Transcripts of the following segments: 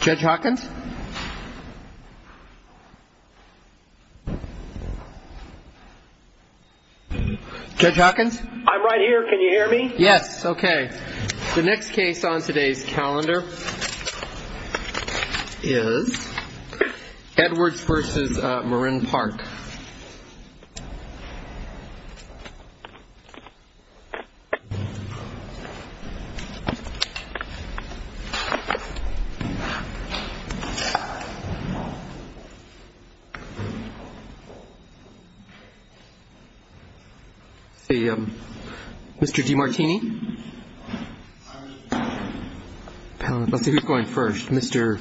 Judge Hawkins Judge Hawkins, I'm right here. Can you hear me? Yes. Okay. The next case on today's calendar Is Edwards versus Marin Park Mr. Demartini Let's see who's going first. Mr.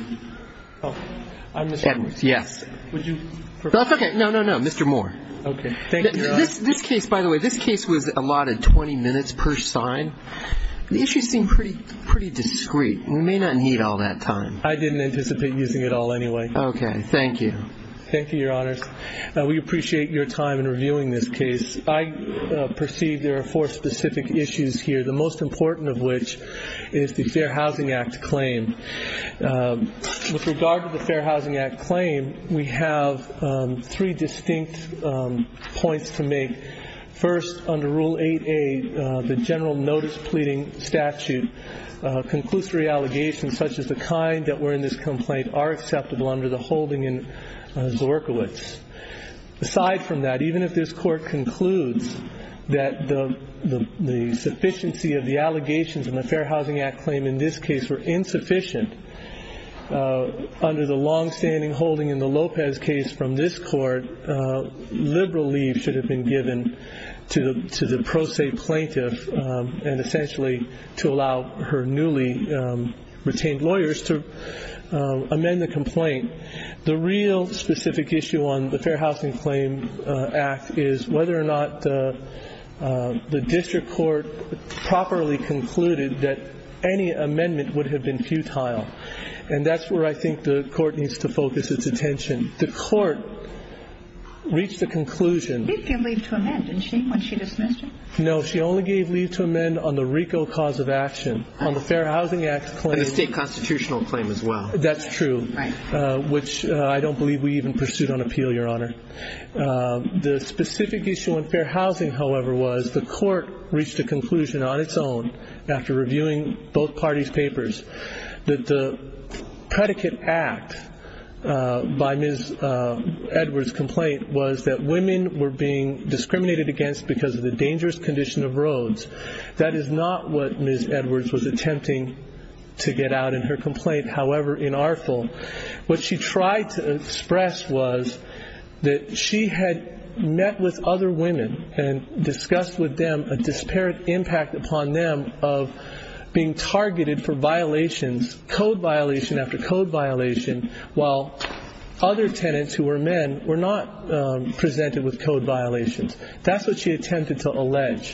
Edwards. Yes. No, no, no. Mr. Moore. This case, by the way, this case was allotted 20 minutes per sign. The issues seem pretty discreet. We may not need all that time. I didn't anticipate using it all anyway. Okay. Thank you. Thank you, Your Honors. We appreciate your time in reviewing this case. I perceive there are four specific issues here, the most important of which is the Fair Housing Act claim. With regard to the Fair Housing Act claim, we have three distinct points to make. First, under Rule 8A, the General Notice Pleading Statute, conclusory allegations such as the kind that were in this complaint are acceptable under the holding in Zorkiewicz. Aside from that, even if this Court concludes that the sufficiency of the allegations in the Fair Housing Act claim in this case were insufficient, under the longstanding holding in the Lopez case from this Court, liberal leave should have been given to the pro se plaintiff and essentially to allow her newly retained lawyers to amend the complaint. The real specific issue on the Fair Housing Claim Act is whether or not the District Court properly concluded that any amendment would have been futile. And that's where I think the Court needs to focus its attention. The Court reached a conclusion. He gave leave to amend, didn't she, when she dismissed it? No, she only gave leave to amend on the RICO cause of action. And the state constitutional claim as well. That's true, which I don't believe we even pursued on appeal, Your Honor. The specific issue on fair housing, however, was the Court reached a conclusion on its own after reviewing both parties' papers that the predicate act by Ms. Edwards' complaint was that women were being discriminated against because of the dangerous condition of roads. That is not what Ms. Edwards was attempting to get out in her complaint, however, in our field. What she tried to express was that she had met with other women and discussed with them a disparate impact upon them of being targeted for violations, code violation after code violation, while other tenants who were men were not presented with code violations. That's what she attempted to allege.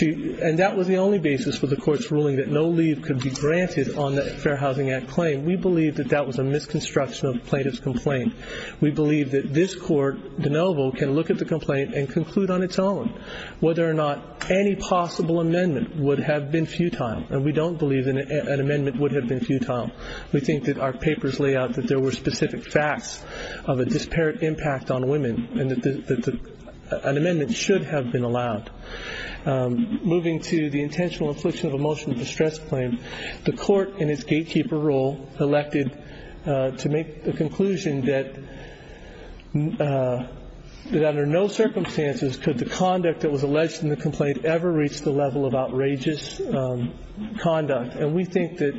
And that was the only basis for the Court's ruling that no leave could be granted on the Fair Housing Act claim. We believe that that was a misconstruction of plaintiff's complaint. We believe that this Court, de novo, can look at the complaint and conclude on its own whether or not any possible amendment would have been futile. And we don't believe that an amendment would have been futile. We think that our papers lay out that there were specific facts of a disparate impact on women and that an amendment should have been allowed. Moving to the intentional infliction of emotion distress claim, the Court in its gatekeeper role elected to make the conclusion that under no circumstances could the conduct that was alleged in the complaint ever reach the level of outrageous conduct. And we think that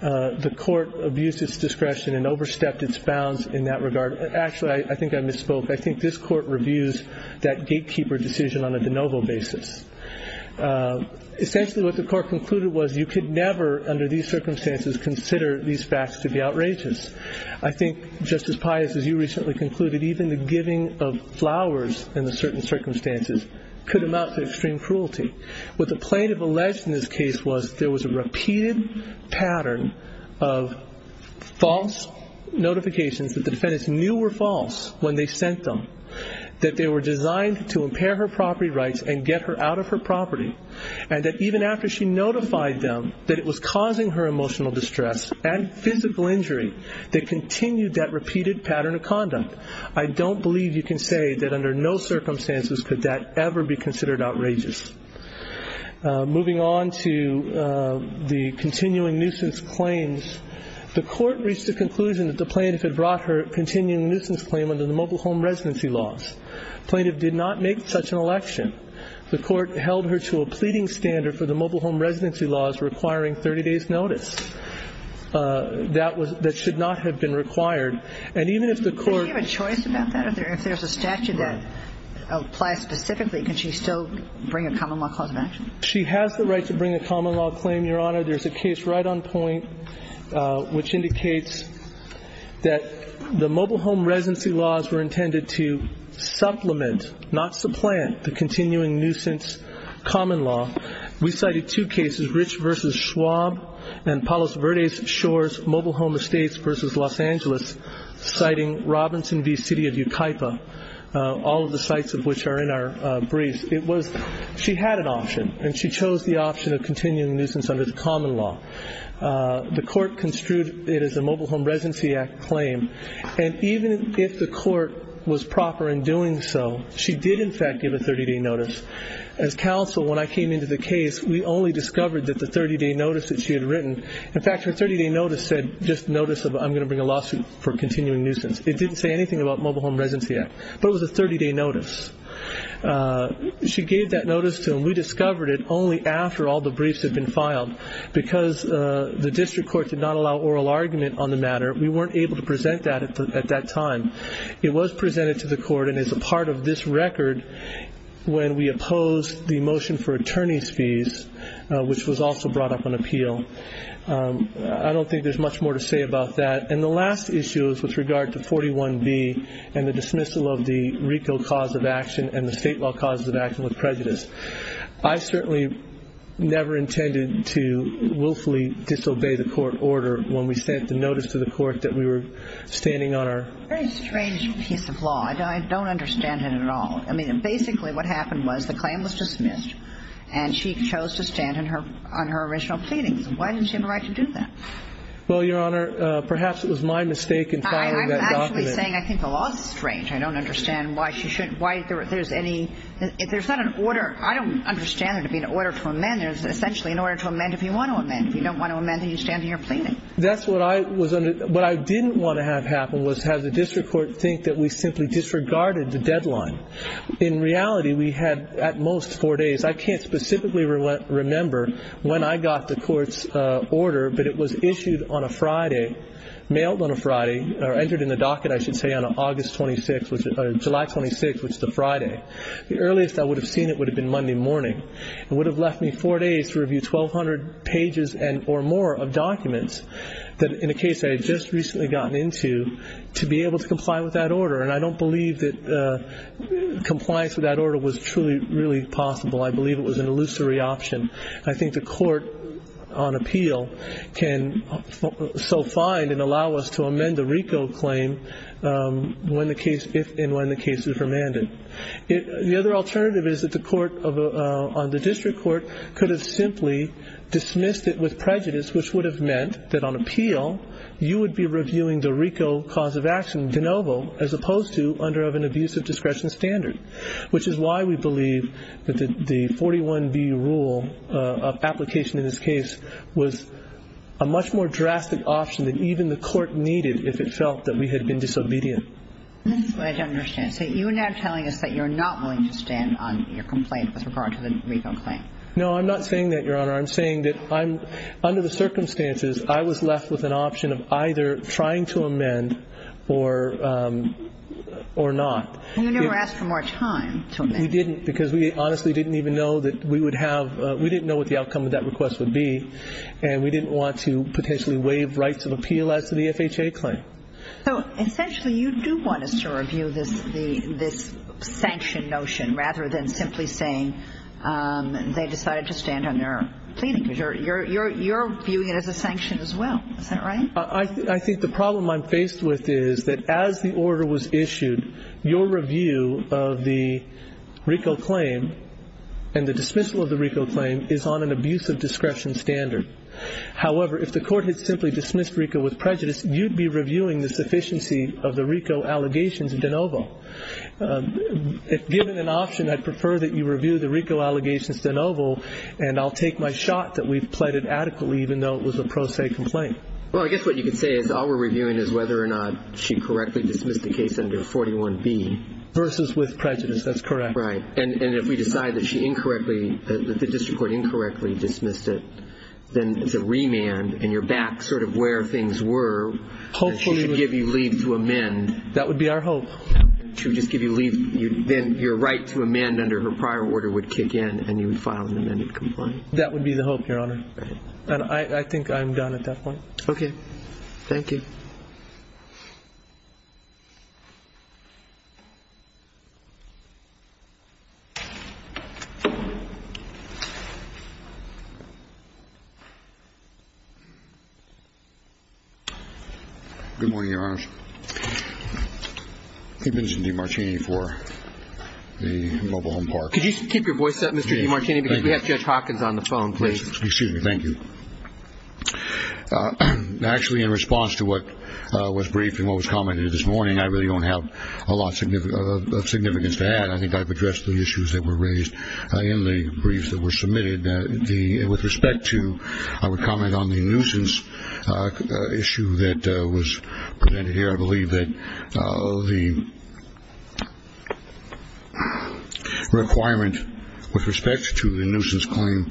the Court abused its discretion and overstepped its bounds in that regard. Actually, I think I misspoke. I think this Court reviews that gatekeeper decision on a de novo basis. Essentially, what the Court concluded was you could never, under these circumstances, consider these facts to be outrageous. I think, Justice Pius, as you recently concluded, even the giving of flowers in certain circumstances could amount to extreme cruelty. What the plaintiff alleged in this case was there was a repeated pattern of false notifications that the defendants knew were false when they sent them, that they were designed to impair her property rights and get her out of her property, and that even after she notified them that it was causing her emotional distress and physical injury, they continued that repeated pattern of conduct. I don't believe you can say that under no circumstances could that ever be considered outrageous. Moving on to the continuing nuisance claims, the Court reached the conclusion that the plaintiff had brought her continuing nuisance claim under the mobile home residency laws. The plaintiff did not make such an election. The Court held her to a pleading standard for the mobile home residency laws requiring 30 days' notice. That should not have been required. And even if the Court ---- Do you have a choice about that? If there's a statute that applies specifically, can she still bring a common law clause of action? She has the right to bring a common law claim, Your Honor. There's a case right on point which indicates that the mobile home residency laws were intended to supplement, not supplant, the continuing nuisance common law. We cited two cases, Rich v. Schwab and Palos Verdes Shores Mobile Home Estates v. Los Angeles, citing Robinson v. City of Yucaipa, all of the sites of which are in our briefs. She had an option, and she chose the option of continuing nuisance under the common law. The Court construed it as a mobile home residency claim, and even if the Court was proper in doing so, she did in fact give a 30-day notice. As counsel, when I came into the case, we only discovered that the 30-day notice that she had written ---- In fact, her 30-day notice said just notice of I'm going to bring a lawsuit for continuing nuisance. It didn't say anything about Mobile Home Residency Act, but it was a 30-day notice. She gave that notice to him. We discovered it only after all the briefs had been filed. Because the District Court did not allow oral argument on the matter, we weren't able to present that at that time. It was presented to the Court and is a part of this record when we opposed the motion for attorney's fees, which was also brought up on appeal. I don't think there's much more to say about that. And the last issue is with regard to 41B and the dismissal of the RICO cause of action and the state law causes of action with prejudice. I certainly never intended to willfully disobey the Court order when we sent the notice to the Court that we were standing on our ---- Very strange piece of law. I don't understand it at all. I mean, basically what happened was the claim was dismissed and she chose to stand on her original pleadings. Why didn't she have a right to do that? Well, Your Honor, perhaps it was my mistake in filing that document. I'm actually saying I think the law is strange. I don't understand why she shouldn't ---- why there's any ---- if there's not an order, I don't understand there to be an order to amend. There's essentially an order to amend if you want to amend. If you don't want to amend, then you stand on your pleading. That's what I was under ---- what I didn't want to have happen was have the district court think that we simply disregarded the deadline. In reality, we had at most four days. I can't specifically remember when I got the Court's order, but it was issued on a Friday, mailed on a Friday, or entered in the docket, I should say, on August 26th, July 26th, which is a Friday. The earliest I would have seen it would have been Monday morning. It would have left me four days to review 1,200 pages or more of documents that, in a case I had just recently gotten into, to be able to comply with that order. And I don't believe that compliance with that order was truly really possible. I believe it was an illusory option. I think the court on appeal can so find and allow us to amend the RICO claim when the case ---- if and when the case is remanded. The other alternative is that the court on the district court could have simply dismissed it with prejudice, which would have meant that on appeal you would be reviewing the RICO cause of action, de novo, as opposed to under an abuse of discretion standard, which is why we believe that the 41B rule of application in this case was a much more drastic option than even the court needed if it felt that we had been disobedient. That's what I don't understand. So you're now telling us that you're not willing to stand on your complaint with regard to the RICO claim. No, I'm not saying that, Your Honor. I'm saying that under the circumstances I was left with an option of either trying to amend or not. You never asked for more time to amend. We didn't because we honestly didn't even know that we would have ---- we didn't know what the outcome of that request would be, and we didn't want to potentially waive rights of appeal as to the FHA claim. So essentially you do want us to review this sanction notion rather than simply saying they decided to stand on their plea because you're viewing it as a sanction as well. Is that right? I think the problem I'm faced with is that as the order was issued, your review of the RICO claim and the dismissal of the RICO claim is on an abuse of discretion standard. However, if the court had simply dismissed RICO with prejudice, you'd be reviewing the sufficiency of the RICO allegations de novo. Given an option, I'd prefer that you review the RICO allegations de novo, and I'll take my shot that we've pleaded adequately even though it was a pro se complaint. Well, I guess what you could say is all we're reviewing is whether or not she correctly dismissed the case under 41B. Versus with prejudice. That's correct. Right. And if we decide that she incorrectly, that the district court incorrectly dismissed it, then it's a remand and you're back sort of where things were. Hopefully. And she should give you leave to amend. That would be our hope. She would just give you leave. Then your right to amend under her prior order would kick in and you would file an amended complaint. That would be the hope, Your Honor. And I think I'm done at that point. Okay. Thank you. Good morning, Your Honor. I'm Vincent DiMartini for the Mobile Home Park. Could you keep your voice up, Mr. DiMartini, because we have Judge Hawkins on the phone. Please. Excuse me. Thank you. Actually, in response to what was briefed and what was commented this morning, I really don't have a lot of significance to add. I think I've addressed the issues that were raised in the briefs that were submitted. With respect to, I would comment on the nuisance issue that was presented here. I believe that the requirement with respect to the nuisance claim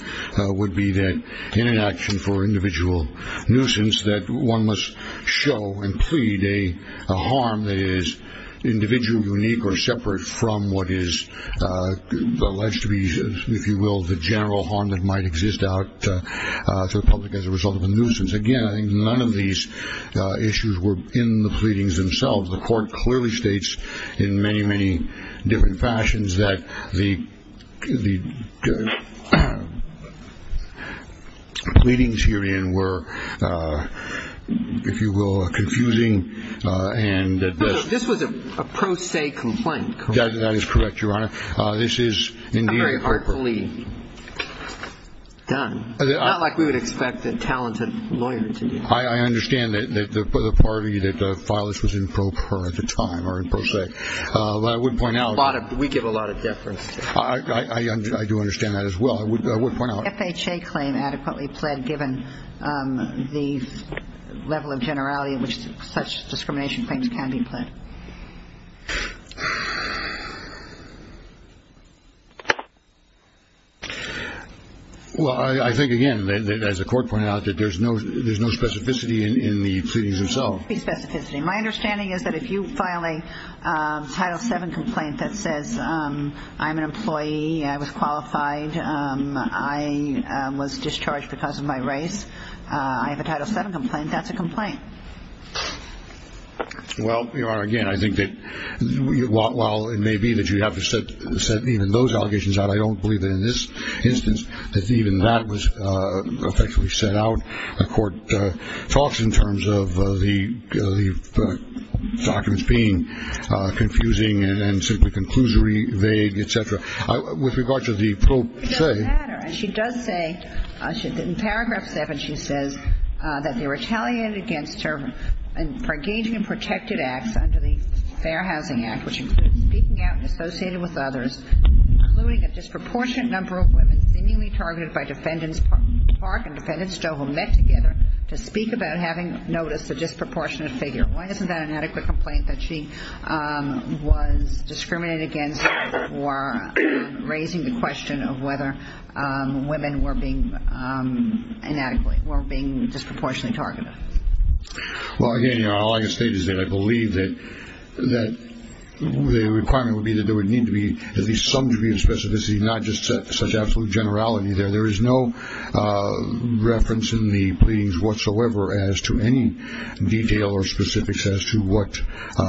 would be that in an action for individual nuisance, that one must show and plead a harm that is individual, unique, or separate from what is alleged to be, if you will, the general harm that might exist out to the public as a result of a nuisance. Again, I think none of these issues were in the pleadings themselves. The Court clearly states in many, many different fashions that the pleadings herein were, if you will, confusing. This was a pro se complaint, correct? That is correct, Your Honor. This is indeed a pro per. Very artfully done. Not like we would expect a talented lawyer to do. I understand that the party that filed this was in pro per at the time or in pro se. But I would point out. We give a lot of deference. I do understand that as well. I would point out. Is the FHA claim adequately pled given the level of generality at which such discrimination claims can be pled? Well, I think, again, as the Court pointed out, that there's no specificity in the pleadings themselves. My understanding is that if you file a Title VII complaint that says I'm an employee, I was qualified, I was discharged because of my race, I have a Title VII complaint, that's a complaint. Well, Your Honor, again, I think that while it may be that you have to set even those allegations out, I don't believe that in this instance that even that was effectively set out. The Court talks in terms of the documents being confusing and simply conclusory, vague, et cetera. With regard to the pro se. It doesn't matter. And she does say, in Paragraph 7 she says that they retaliated against her for engaging in protected acts under the Fair Housing Act, which included speaking out and associating with others, including a disproportionate number of women seemingly targeted by defendants Park and defendants Stowe who met together to speak about having noticed a disproportionate figure. Why isn't that an adequate complaint that she was discriminated against for raising the question of whether women were being disproportionately targeted? Well, again, Your Honor, all I can state is that I believe that the requirement would be that there would need to be at least some degree of specificity, not just such absolute generality. There is no reference in the pleadings whatsoever as to any detail or specifics as to what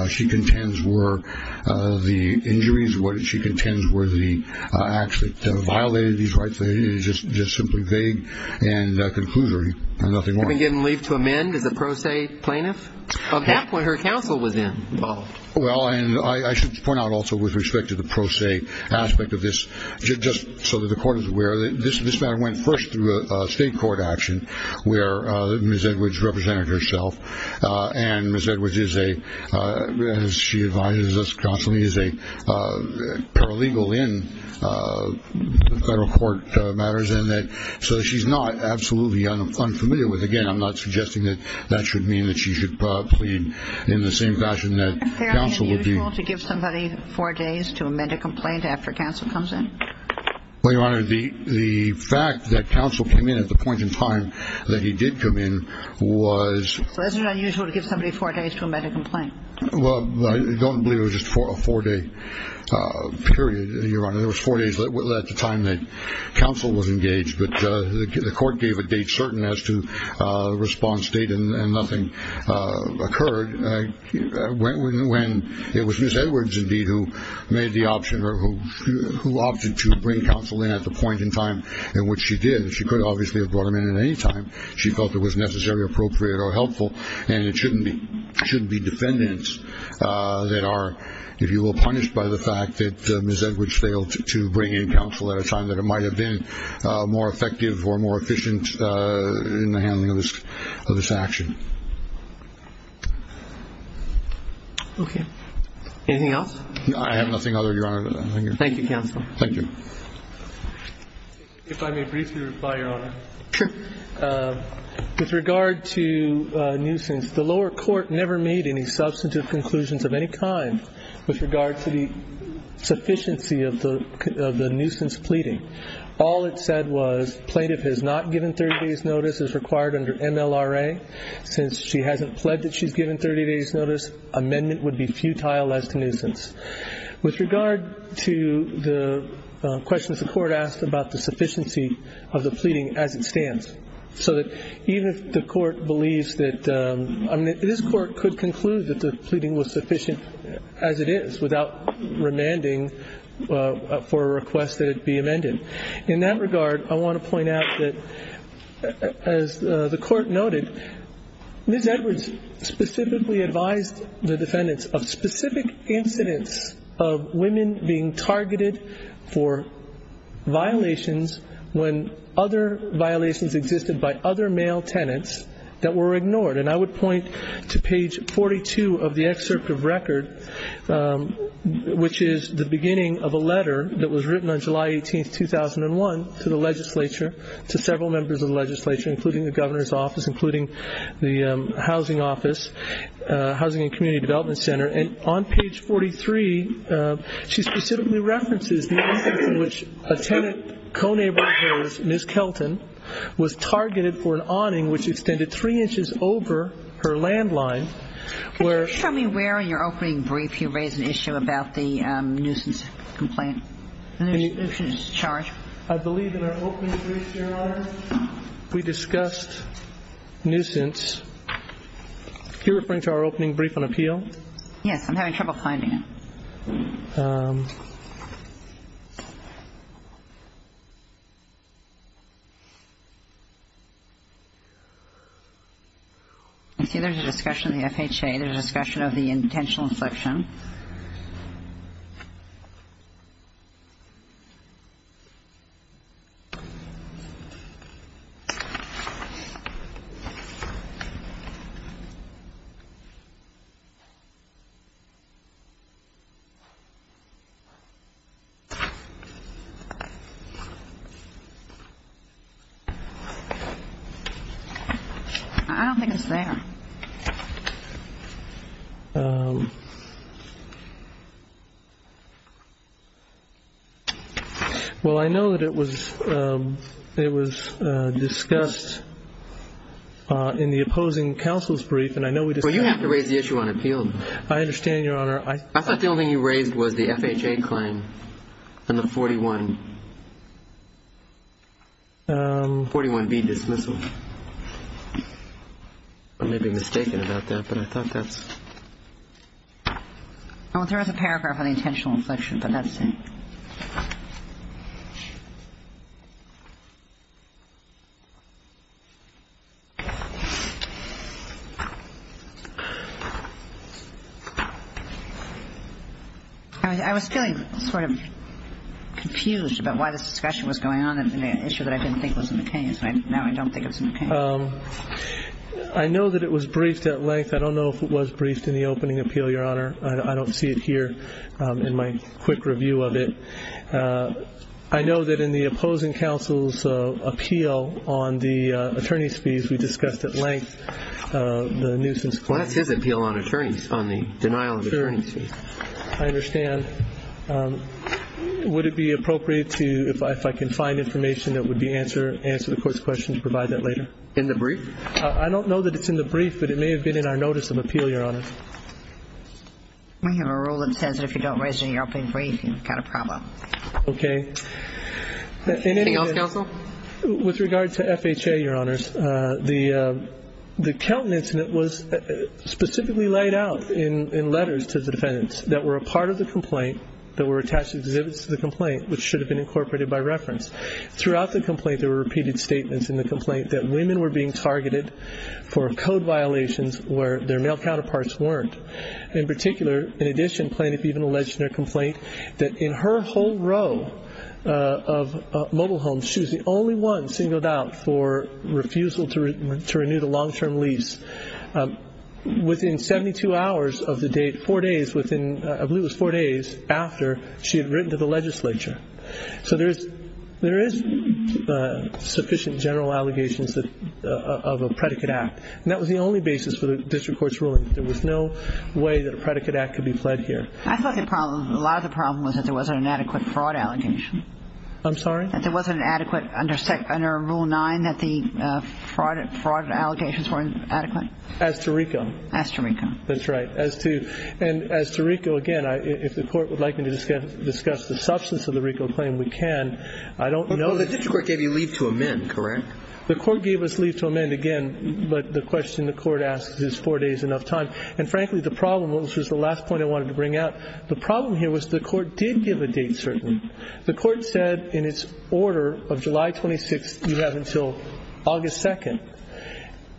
she contends were the injuries, what she contends were the acts that violated these rights. It is just simply vague and conclusory and nothing more. You've been given leave to amend as a pro se plaintiff? At that point her counsel was involved. Well, and I should point out also with respect to the pro se aspect of this, just so that the court is aware, this matter went first through a state court action where Ms. Edwards represented herself and Ms. Edwards is a, as she advises us constantly, is a paralegal in federal court matters and so she's not absolutely unfamiliar with it. Again, I'm not suggesting that that should mean that she should plead in the same fashion that counsel would be. Was it unusual to give somebody four days to amend a complaint after counsel comes in? Well, Your Honor, the fact that counsel came in at the point in time that he did come in was... So is it unusual to give somebody four days to amend a complaint? Well, I don't believe it was just a four-day period, Your Honor. There was four days at the time that counsel was engaged, but the court gave a date certain as to the response date and nothing occurred. When it was Ms. Edwards, indeed, who made the option or who opted to bring counsel in at the point in time in which she did, she could obviously have brought him in at any time. She felt it was necessary, appropriate, or helpful, and it shouldn't be defendants that are, if you will, punished by the fact that Ms. Edwards failed to bring in counsel at a time that it might have been more effective or more efficient in the handling of this action. Okay. Anything else? I have nothing other, Your Honor. Thank you, counsel. Thank you. If I may briefly reply, Your Honor. Sure. With regard to nuisance, the lower court never made any substantive conclusions of any kind with regard to the sufficiency of the nuisance pleading. All it said was plaintiff has not given 30 days' notice as required under MLRA. Since she hasn't pled that she's given 30 days' notice, amendment would be futile as to nuisance. With regard to the questions the court asked about the sufficiency of the pleading as it stands, so that even if the court believes that this court could conclude that the pleading was sufficient as it is without remanding for a request that it be amended. In that regard, I want to point out that, as the court noted, Ms. Edwards specifically advised the defendants of specific incidents of women being targeted for violations when other violations existed by other male tenants that were ignored. And I would point to page 42 of the excerpt of record, which is the beginning of a letter that was written on July 18, 2001, to the legislature, to several members of the legislature, including the governor's office, including the housing office, Housing and Community Development Center. And on page 43, she specifically references the instance in which a tenant, Ms. Kelton, was targeted for an awning which extended three inches over her landline. Can you tell me where in your opening brief you raised an issue about the nuisance complaint, nuisance charge? I believe in our opening brief, Your Honor, we discussed nuisance. Are you referring to our opening brief on appeal? Yes. I'm having trouble finding it. I see there's a discussion of the FHA. There's a discussion of the intentional infliction. I don't think it's there. Well, I know that it was discussed in the opposing counsel's brief, and I know we discussed it. Well, you have to raise the issue on appeal. I understand, Your Honor. I thought the only thing you raised was the FHA claim and the 41B dismissal. I may be mistaken about that, but I thought that's ‑‑ Well, there is a paragraph on the intentional infliction, but that's it. I was feeling sort of confused about why this discussion was going on in an issue that I didn't think was in the case. I know that it was briefed at length. I don't know if it was briefed in the opening appeal, Your Honor. I don't see it here in my quick review of it. I know that in the opposing counsel's appeal on the attorney's fees, we discussed at length the nuisance claim. Well, that's his appeal on attorneys, on the denial of attorney's fees. I understand. Would it be appropriate to, if I can find information that would answer the court's question to provide that later? In the brief? I don't know that it's in the brief, but it may have been in our notice of appeal, Your Honor. We have a rule that says if you don't resonate in your opening brief, you've got a problem. Okay. Anything else, counsel? With regard to FHA, Your Honors, the Kelton incident was specifically laid out in letters to the defendants that were a part of the complaint, that were attached exhibits to the complaint, which should have been incorporated by reference. Throughout the complaint, there were repeated statements in the complaint that women were being targeted for code violations where their male counterparts weren't. In particular, in addition, Planoff even alleged in her complaint that in her whole row of mobile homes, she was the only one singled out for refusal to renew the long-term lease. Within 72 hours of the date, four days within, I believe it was four days after she had written to the legislature. So there is sufficient general allegations of a predicate act. And that was the only basis for the district court's ruling. There was no way that a predicate act could be pled here. I thought the problem, a lot of the problem was that there wasn't an adequate fraud allegation. I'm sorry? That there wasn't an adequate under rule nine that the fraud allegations weren't adequate? As to RICO. As to RICO. That's right. As to RICO, again, if the court would like me to discuss the substance of the RICO claim, we can. I don't know. Well, the district court gave you leave to amend, correct? The court gave us leave to amend again, but the question the court asks is four days enough time. And frankly, the problem, which was the last point I wanted to bring out, the problem here was the court did give a date certain. The court said in its order of July 26th you have until August 2nd.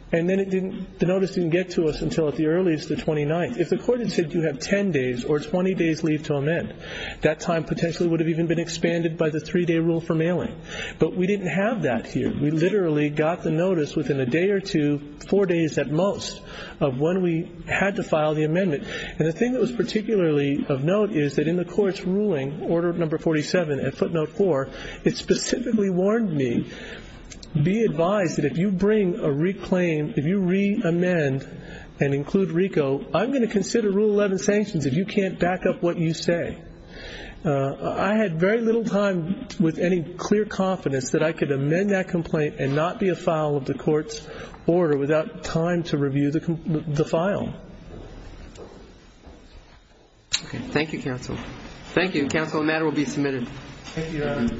And then it didn't, the notice didn't get to us until at the earliest the 29th. If the court had said you have 10 days or 20 days leave to amend, that time potentially would have even been expanded by the three-day rule for mailing. But we didn't have that here. We literally got the notice within a day or two, four days at most, of when we had to file the amendment. And the thing that was particularly of note is that in the court's ruling, Order No. 47 at footnote 4, it specifically warned me, be advised that if you bring a reclaim, if you reamend and include RICO, I'm going to consider Rule 11 sanctions if you can't back up what you say. I had very little time with any clear confidence that I could amend that complaint and not be a file of the court's order without time to review the file. Okay. Thank you, counsel. Thank you. Counsel, the matter will be submitted. Thank you, Your Honor.